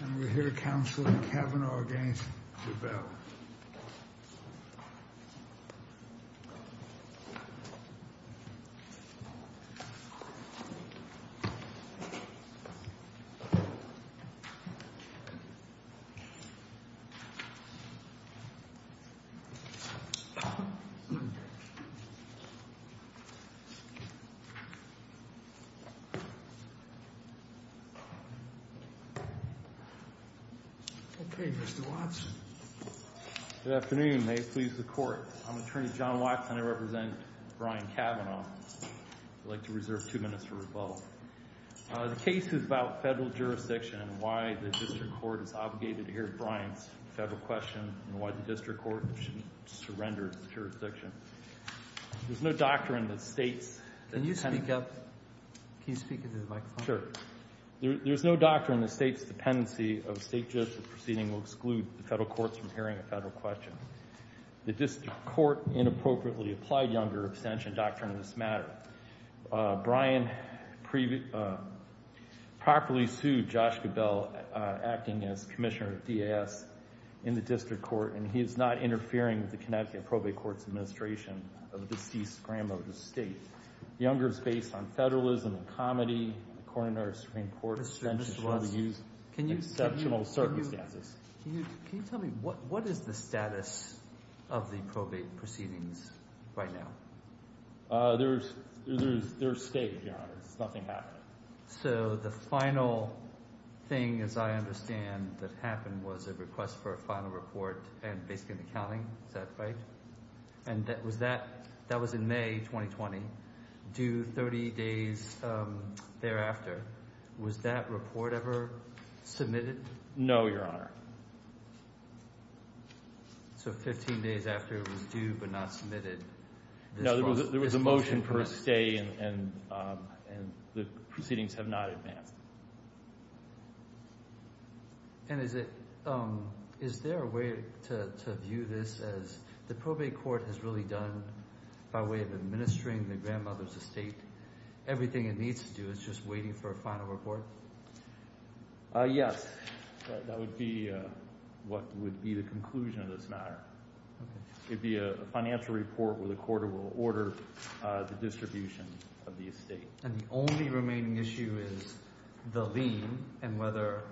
And we hear Counselor Cavanaugh against Geballe. Okay, Mr. Watson. Good afternoon. May it please the Court. I'm Attorney John Watson. I represent Brian Cavanaugh. I'd like to reserve two minutes for rebuttal. The case is about federal jurisdiction and why the district court is obligated to hear Brian's federal question and why the district court should surrender its jurisdiction. There's no doctrine that states that dependency— Can you speak up? Can you speak into the microphone? Sure. There's no doctrine that states that dependency of state judges proceeding will exclude the federal courts from hearing a federal question. The district court inappropriately applied Younger abstention doctrine in this matter. Brian properly sued Josh Geballe, acting as commissioner of DAS, in the district court, and he is not interfering with the Connecticut Probate Court's administration of a deceased grandmother to state. Younger is based on federalism and comedy. The coroner of the Supreme Court— Mr. Watson, can you tell me what is the status of the probate proceedings right now? They're staged, Your Honor. Nothing happened. So the final thing, as I understand, that happened was a request for a final report and basically an accounting. Is that right? And that was in May 2020, due 30 days thereafter. Was that report ever submitted? No, Your Honor. So 15 days after it was due but not submitted. No, there was a motion for a stay, and the proceedings have not advanced. And is there a way to view this as the probate court has really done, by way of administering the grandmother's estate, everything it needs to do is just waiting for a final report? Yes, that would be what would be the conclusion of this matter. It would be a financial report where the coroner will order the distribution of the estate. And the only remaining issue is the lien and whether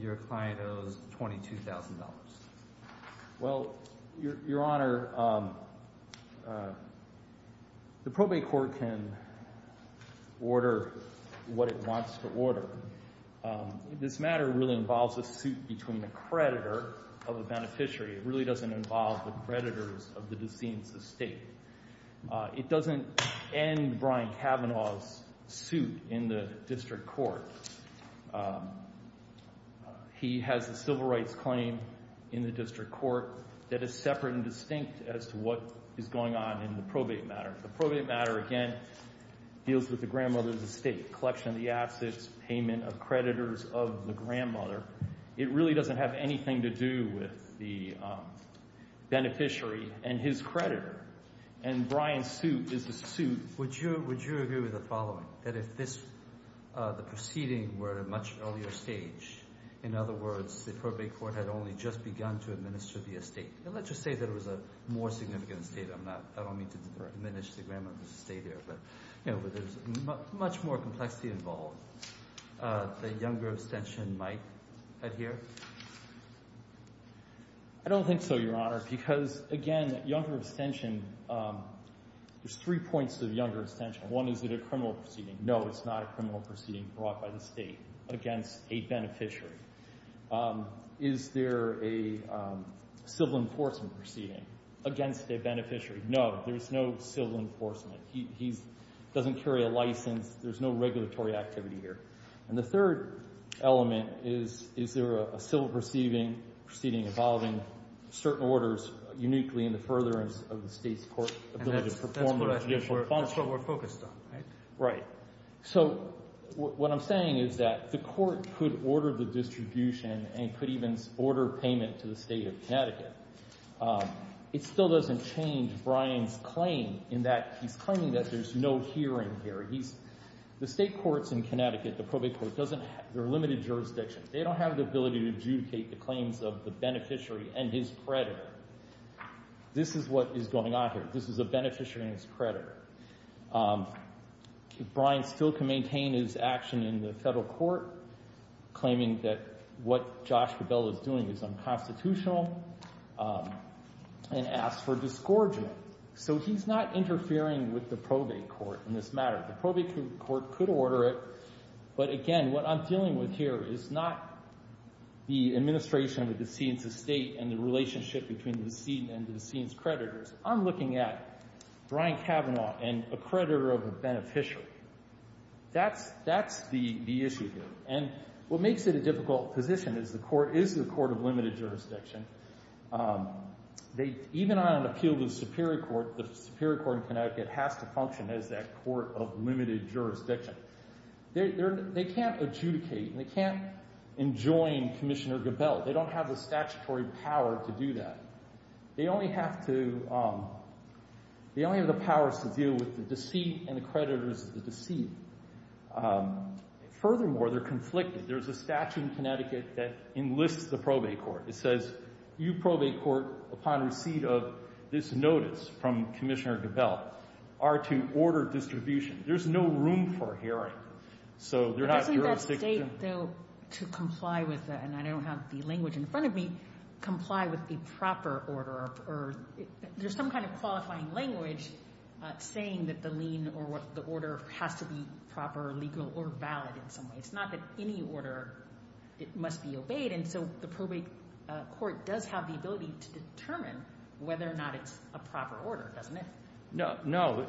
your client owes $22,000. Well, Your Honor, the probate court can order what it wants to order. This matter really involves a suit between the creditor of the beneficiary. It really doesn't involve the creditors of the deceased's estate. It doesn't end Brian Kavanaugh's suit in the district court. He has a civil rights claim in the district court that is separate and distinct as to what is going on in the probate matter. The probate matter, again, deals with the grandmother's estate, collection of the assets, payment of creditors of the grandmother. It really doesn't have anything to do with the beneficiary and his creditor. And Brian's suit is a suit. Would you agree with the following, that if this proceeding were at a much earlier stage, in other words, the probate court had only just begun to administer the estate? Let's just say that it was a more significant estate. I don't mean to diminish the grandmother's estate here, but there's much more complexity involved. Would the younger abstention might adhere? I don't think so, Your Honor, because, again, younger abstention, there's three points to the younger abstention. One, is it a criminal proceeding? No, it's not a criminal proceeding brought by the State against a beneficiary. Is there a civil enforcement proceeding against a beneficiary? No, there is no civil enforcement. He doesn't carry a license. There's no regulatory activity here. And the third element is, is there a civil proceeding involving certain orders uniquely in the furtherance of the State's court ability to perform a judicial function? That's what we're focused on, right? Right. So what I'm saying is that the court could order the distribution and could even order payment to the State of Connecticut. It still doesn't change Brian's claim in that he's claiming that there's no hearing here. The State courts in Connecticut, the probate courts, they're limited jurisdictions. They don't have the ability to adjudicate the claims of the beneficiary and his creditor. This is what is going on here. This is a beneficiary and his creditor. Brian still can maintain his action in the federal court, claiming that what Josh Cabell is doing is unconstitutional and asks for disgorgement. So he's not interfering with the probate court in this matter. The probate court could order it. But, again, what I'm dealing with here is not the administration of the decedent's estate and the relationship between the decedent and the decedent's creditors. I'm looking at Brian Cavanaugh and a creditor of a beneficiary. That's the issue here. And what makes it a difficult position is the court is the court of limited jurisdiction. Even on an appeal to the Superior Court, the Superior Court in Connecticut has to function as that court of limited jurisdiction. They can't adjudicate and they can't enjoin Commissioner Cabell. They don't have the statutory power to do that. They only have the powers to deal with the deceit and the creditors of the deceit. Furthermore, they're conflicted. There's a statute in Connecticut that enlists the probate court. It says you probate court, upon receipt of this notice from Commissioner Cabell, are to order distribution. There's no room for hearing. So they're not jurisdiction. But doesn't that state, though, to comply with that, and I don't have the language in front of me, comply with a proper order? There's some kind of qualifying language saying that the lien or the order has to be proper, legal, or valid in some way. It's not that any order must be obeyed. And so the probate court does have the ability to determine whether or not it's a proper order, doesn't it? No. No.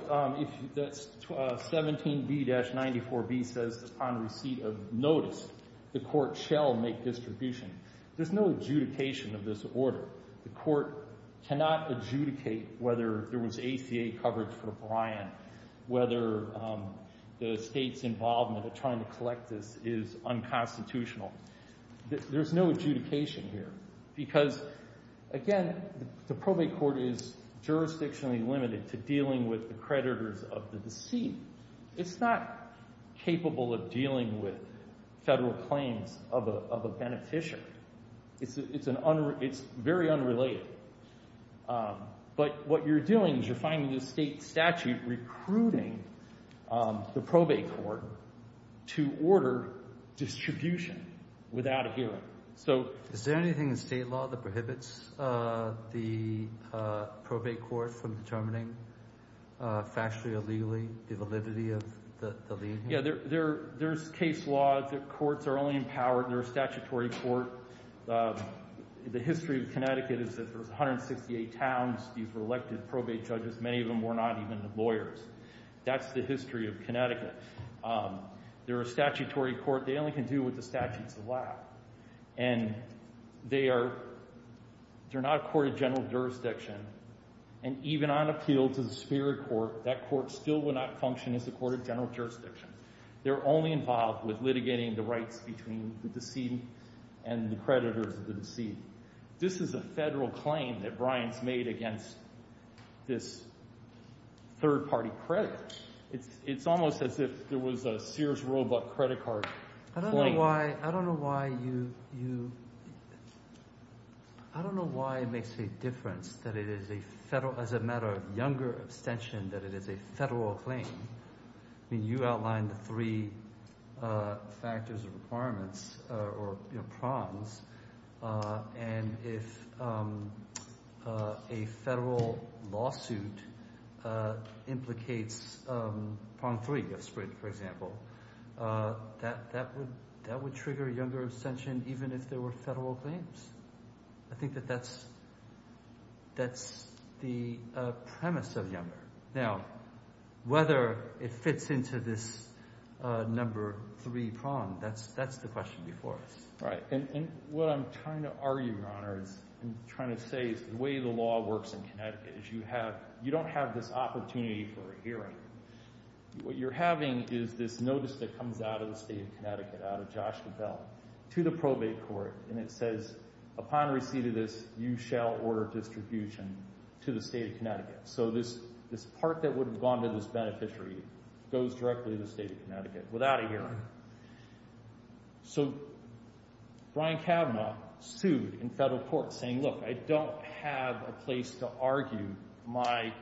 17B-94B says, upon receipt of notice, the court shall make distribution. There's no adjudication of this order. The court cannot adjudicate whether there was ACA coverage for Brian, whether the state's involvement in trying to collect this is unconstitutional. There's no adjudication here. Because, again, the probate court is jurisdictionally limited to dealing with the creditors of the deceit. It's not capable of dealing with Federal claims of a beneficiary. It's very unrelated. But what you're doing is you're finding the state statute recruiting the probate court to order distribution without a hearing. Is there anything in state law that prohibits the probate court from determining factually or legally the validity of the lien? Yeah, there's case law that courts are only empowered in their statutory court. The history of Connecticut is that there's 168 towns. These were elected probate judges. Many of them were not even lawyers. That's the history of Connecticut. They're a statutory court. They only can do what the statutes allow. And they are not a court of general jurisdiction. And even on appeal to the Superior Court, that court still would not function as a court of general jurisdiction. They're only involved with litigating the rights between the decedent and the creditors of the decedent. This is a Federal claim that Bryant's made against this third-party creditor. It's almost as if there was a Sears Roebuck credit card claim. I don't know why you—I don't know why it makes a difference that it is a Federal—as a matter of younger abstention, that it is a Federal claim. I mean you outlined the three factors or requirements or prongs. And if a Federal lawsuit implicates prong three, for example, that would trigger younger abstention even if there were Federal claims. I think that that's the premise of younger. Now, whether it fits into this number three prong, that's the question before us. Right. And what I'm trying to argue, Your Honor, is I'm trying to say is the way the law works in Connecticut is you have—you don't have this opportunity for a hearing. What you're having is this notice that comes out of the state of Connecticut, out of Josh DeBell, to the probate court. And it says, upon receipt of this, you shall order distribution to the state of Connecticut. So this part that would have gone to this beneficiary goes directly to the state of Connecticut without a hearing. So Brian Kavanaugh sued in Federal court saying, look, I don't have a place to argue my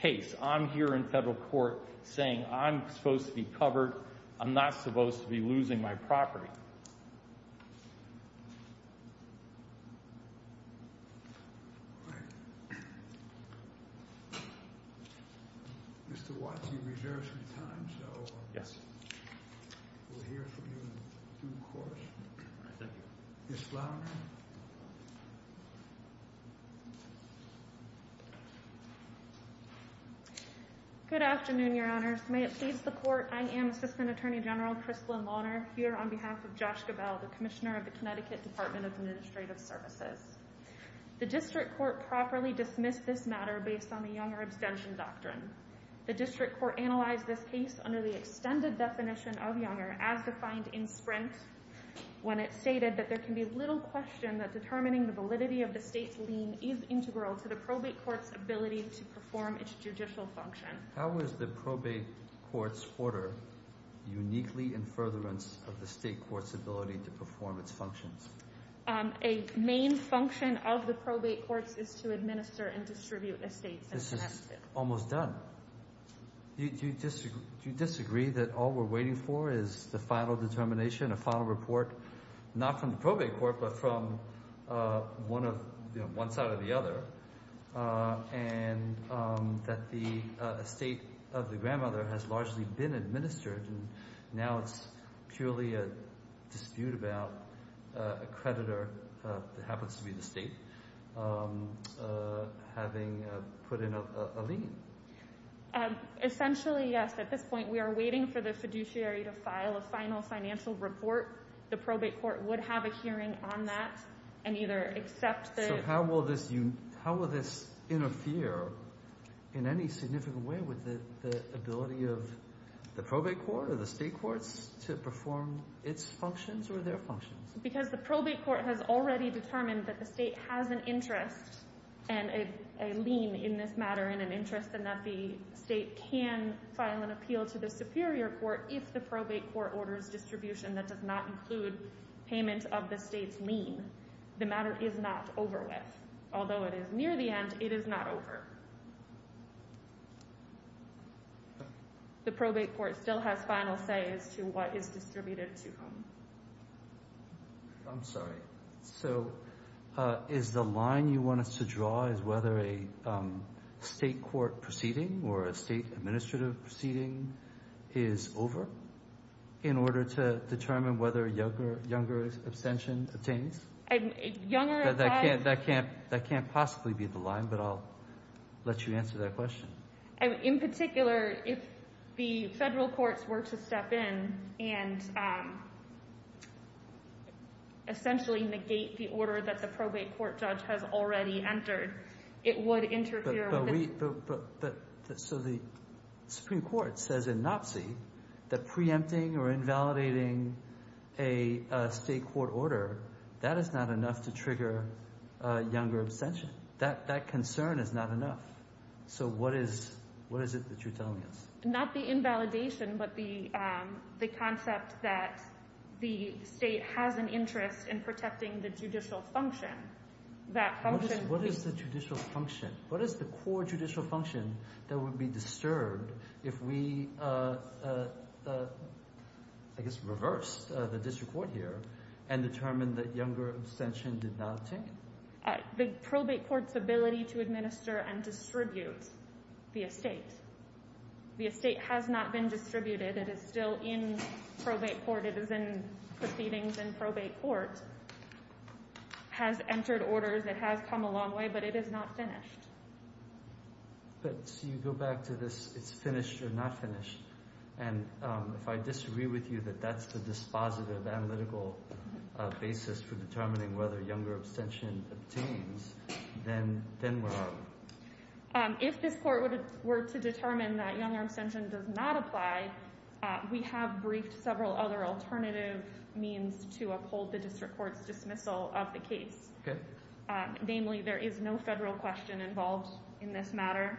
case. I'm here in Federal court saying I'm supposed to be covered. I'm not supposed to be losing my property. Mr. Watts, you reserve some time, so we'll hear from you in due course. Thank you. Ms. Flaherty. Good afternoon, Your Honors. May it please the Court, I am Assistant Attorney General Krystlin Lohner here on behalf of Josh DeBell, the Commissioner of the Connecticut Department of Administrative Services. The district court properly dismissed this matter based on the Younger abstention doctrine. The district court analyzed this case under the extended definition of Younger as defined in Sprint when it stated that there can be little question that determining the validity of the state's lien is integral to the probate court's ability to perform its judicial function. How is the probate court's order uniquely in furtherance of the state court's ability to perform its functions? A main function of the probate courts is to administer and distribute estates. This is almost done. Do you disagree that all we're waiting for is the final determination, a final report, not from the probate court but from one side or the other, and that the estate of the grandmother has largely been administered and now it's purely a dispute about a creditor that happens to be the state having put in a lien? Essentially, yes. At this point, we are waiting for the fiduciary to file a final financial report. The probate court would have a hearing on that and either accept the… So how will this interfere in any significant way with the ability of the probate court or the state courts to perform its functions or their functions? Because the probate court has already determined that the state has an interest and a lien in this matter and an interest and that the state can file an appeal to the superior court if the probate court orders distribution that does not include payment of the state's lien. The matter is not over with. Although it is near the end, it is not over. The probate court still has final say as to what is distributed to whom. I'm sorry. So is the line you want us to draw is whether a state court proceeding or a state administrative proceeding is over in order to determine whether a younger abstention obtains? Younger… That can't possibly be the line, but I'll let you answer that question. In particular, if the federal courts were to step in and essentially negate the order that the probate court judge has already entered, it would interfere with… So the Supreme Court says in NOPC that preempting or invalidating a state court order, that is not enough to trigger younger abstention. That concern is not enough. So what is it that you're telling us? Not the invalidation, but the concept that the state has an interest in protecting the judicial function. What is the judicial function? What is the core judicial function that would be disturbed if we, I guess, reversed the district court here and determined that younger abstention did not obtain? The probate court's ability to administer and distribute the estate. The estate has not been distributed. It is still in probate court. It is in proceedings in probate court. Has entered orders. It has come a long way, but it is not finished. So you go back to this, it's finished or not finished, and if I disagree with you that that's the dispositive analytical basis for determining whether younger abstention obtains, then where are we? If this court were to determine that younger abstention does not apply, we have briefed several other alternative means to uphold the district court's dismissal of the case. Namely, there is no federal question involved in this matter.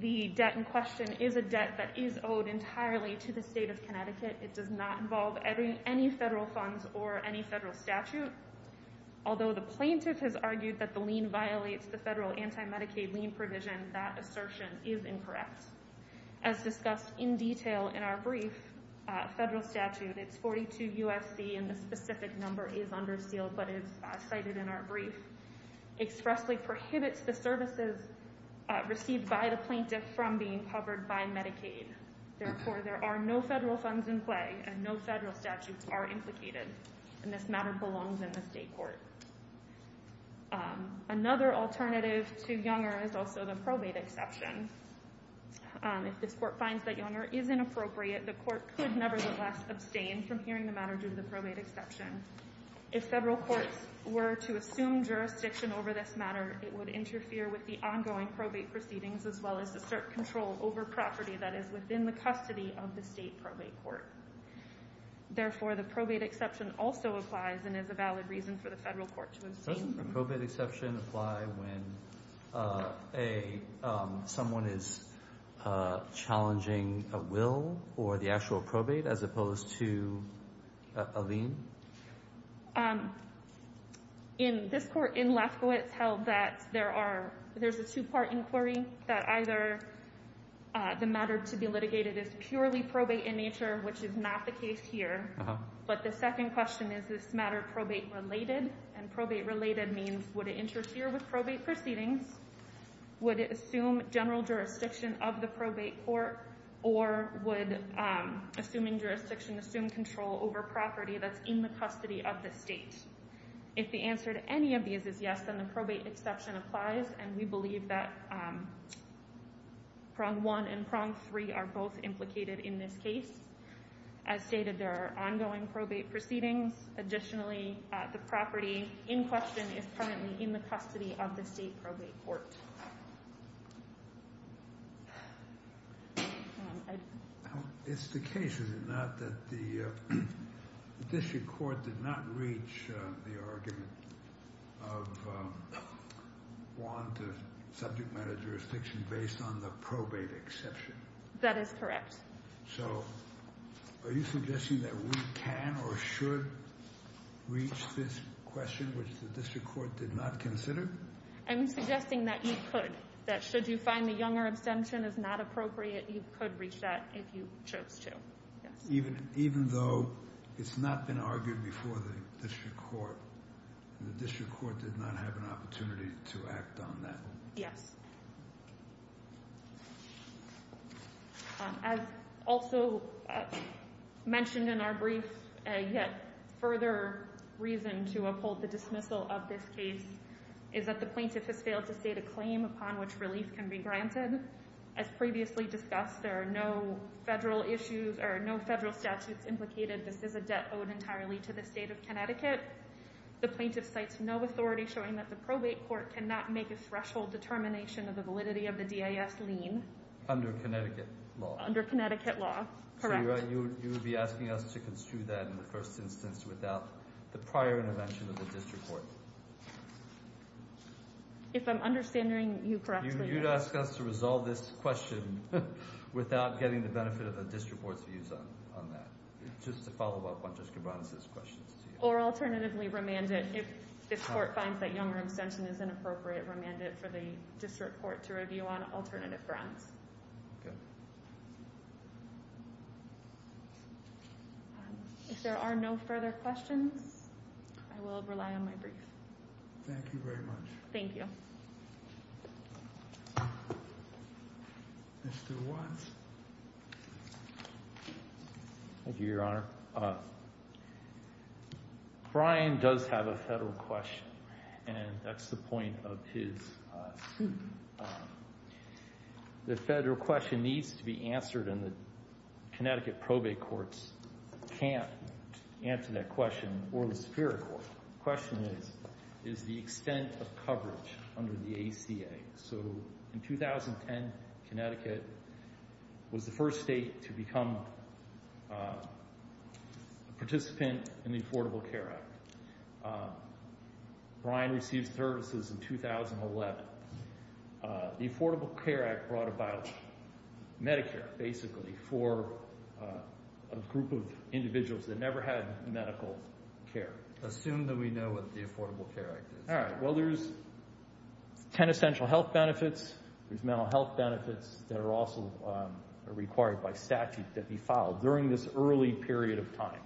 The debt in question is a debt that is owed entirely to the state of Connecticut. It does not involve any federal funds or any federal statute. Although the plaintiff has argued that the lien violates the federal anti-Medicaid lien provision, that assertion is incorrect. As discussed in detail in our brief, federal statute, it's 42 U.S.C., and the specific number is under seal, but it's cited in our brief. Expressly prohibits the services received by the plaintiff from being covered by Medicaid. Therefore, there are no federal funds in play, and no federal statutes are implicated. And this matter belongs in the state court. Another alternative to younger is also the probate exception. If this court finds that younger is inappropriate, the court could nevertheless abstain from hearing the matter due to the probate exception. If federal courts were to assume jurisdiction over this matter, it would interfere with the ongoing probate proceedings as well as assert control over property that is within the custody of the state probate court. Therefore, the probate exception also applies and is a valid reason for the federal court to assume. Does the probate exception apply when someone is challenging a will or the actual probate as opposed to a lien? In this court in Lesko, it's held that there's a two-part inquiry, that either the matter to be litigated is purely probate in nature, which is not the case here, but the second question is, is this matter probate-related? And probate-related means, would it interfere with probate proceedings? Would it assume general jurisdiction of the probate court or would assuming jurisdiction assume control over property that's in the custody of the state? If the answer to any of these is yes, then the probate exception applies and we believe that prong one and prong three are both implicated in this case. As stated, there are ongoing probate proceedings. Additionally, the property in question is currently in the custody of the state probate court. It's the case, is it not, that the district court did not reach the argument of want of subject matter jurisdiction based on the probate exception? That is correct. So, are you suggesting that we can or should reach this question, which the district court did not consider? I'm suggesting that you could, that should you find the Younger abstention is not appropriate, you could reach that if you chose to. Even though it's not been argued before the district court, the district court did not have an opportunity to act on that? Yes. As also mentioned in our brief, yet further reason to uphold the dismissal of this case is that the plaintiff has failed to state a claim upon which relief can be granted. As previously discussed, there are no federal issues or no federal statutes implicated. This is a debt owed entirely to the state of Connecticut. The plaintiff cites no authority showing that the probate court cannot make a threshold determination of the validity of the DIS lien. Under Connecticut law? Under Connecticut law, correct. So, you would be asking us to construe that in the first instance without the prior intervention of the district court? If I'm understanding you correctly, yes. You'd ask us to resolve this question without getting the benefit of the district court's views on that. Just to follow up on Jessica Brown's questions to you. Or alternatively remand it if this court finds that Younger abstention is inappropriate, remand it for the district court to review on alternative grounds. Okay. If there are no further questions, I will rely on my brief. Thank you very much. Thank you. Mr. Watts. Thank you, Your Honor. Brian does have a federal question, and that's the point of his suit. The federal question needs to be answered, and the Connecticut probate courts can't answer that question or the Superior Court. The question is, is the extent of coverage under the ACA. So, in 2010, Connecticut was the first state to become a participant in the Affordable Care Act. Brian received services in 2011. The Affordable Care Act brought about Medicare, basically, for a group of individuals that never had medical care. Assume that we know what the Affordable Care Act is. All right, well, there's 10 essential health benefits. There's mental health benefits that are also required by statute that be filed during this early period of time.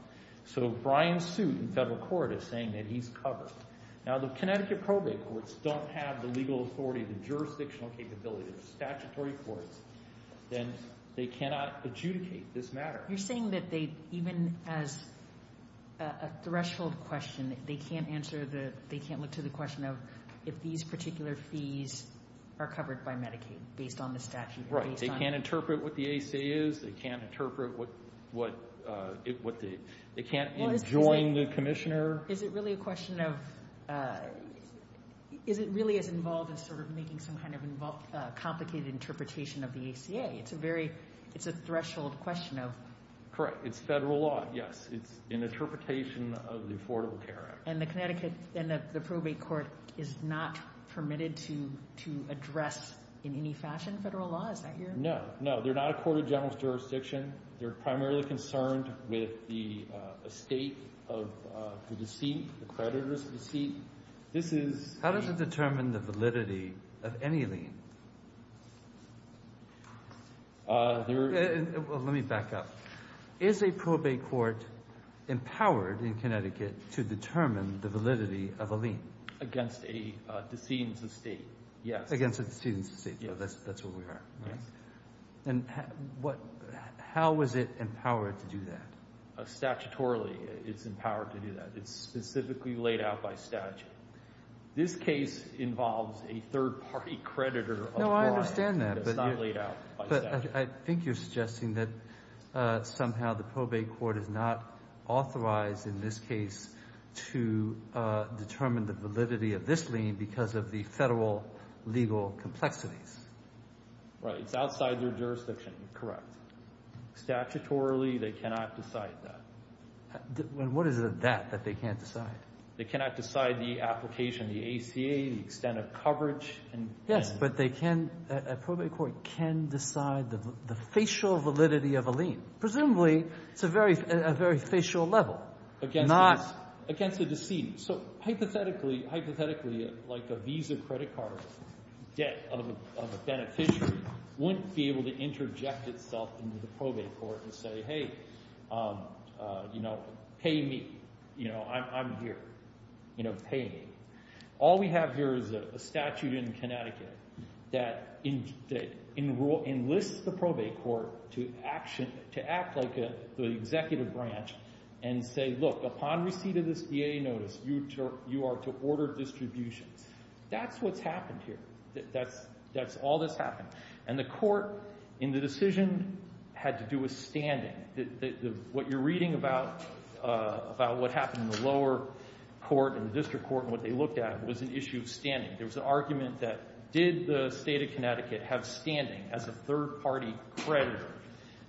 So, Brian's suit in federal court is saying that he's covered. Now, the Connecticut probate courts don't have the legal authority, the jurisdictional capability. They're statutory courts, and they cannot adjudicate this matter. You're saying that they, even as a threshold question, they can't answer the, they can't look to the question of if these particular fees are covered by Medicaid based on the statute? Right, they can't interpret what the ACA is. They can't interpret what the, they can't enjoin the commissioner. Is it really a question of, is it really as involved as sort of making some kind of complicated interpretation of the ACA? It's a very, it's a threshold question of. Correct, it's federal law, yes. It's an interpretation of the Affordable Care Act. And the Connecticut, and the probate court is not permitted to address in any fashion federal law? Is that your? No, no, they're not a court of general jurisdiction. They're primarily concerned with the estate of the deceit, the creditors of deceit. How does it determine the validity of any lien? Let me back up. Is a probate court empowered in Connecticut to determine the validity of a lien? Against a decedent's estate, yes. Against a decedent's estate, so that's where we are, right? And how is it empowered to do that? Statutorily, it's empowered to do that. It's specifically laid out by statute. This case involves a third-party creditor. No, I understand that. It's not laid out by statute. But I think you're suggesting that somehow the probate court is not authorized in this case to determine the validity of this lien because of the federal legal complexities. Right, it's outside their jurisdiction, correct. Statutorily, they cannot decide that. What is it that they can't decide? They cannot decide the application, the ACA, the extent of coverage. Yes, but they can, a probate court can decide the facial validity of a lien. Presumably, it's a very facial level. Against a decedent. So hypothetically, like a Visa credit card debt of a beneficiary wouldn't be able to interject itself into the probate court and say, Hey, pay me. I'm here. Pay me. All we have here is a statute in Connecticut that enlists the probate court to act like the executive branch and say, Look, upon receipt of this VA notice, you are to order distributions. That's what's happened here. That's all that's happened. And the court in the decision had to do with standing. What you're reading about what happened in the lower court and the district court and what they looked at was an issue of standing. There was an argument that did the state of Connecticut have standing as a third-party creditor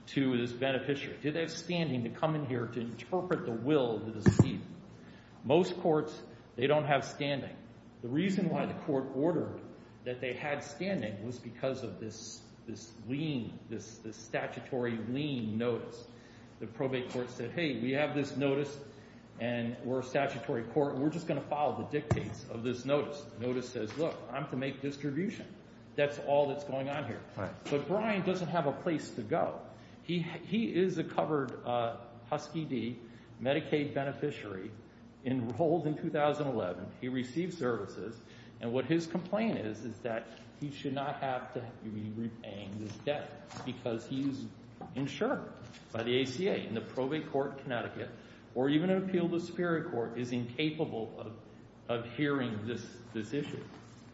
to this beneficiary? Did they have standing to come in here to interpret the will of the decedent? Most courts, they don't have standing. The reason why the court ordered that they had standing was because of this lien, this statutory lien notice. The probate court said, Hey, we have this notice, and we're a statutory court, and we're just going to follow the dictates of this notice. Notice says, Look, I'm to make distribution. That's all that's going on here. But Brian doesn't have a place to go. He is a covered Husky D, Medicaid beneficiary, enrolled in 2011. He received services. And what his complaint is is that he should not have to be repaying this debt because he's insured by the ACA. And the probate court in Connecticut, or even an appeal to the Superior Court, is incapable of hearing this issue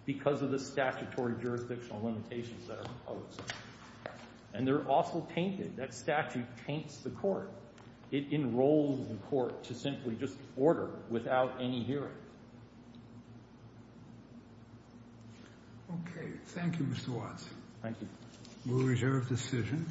because of the statutory jurisdictional limitations that are imposed. And they're also tainted. That statute taints the court. It enrolls the court to simply just order without any hearing. Okay. Thank you, Mr. Watts. Thank you. We'll reserve decision.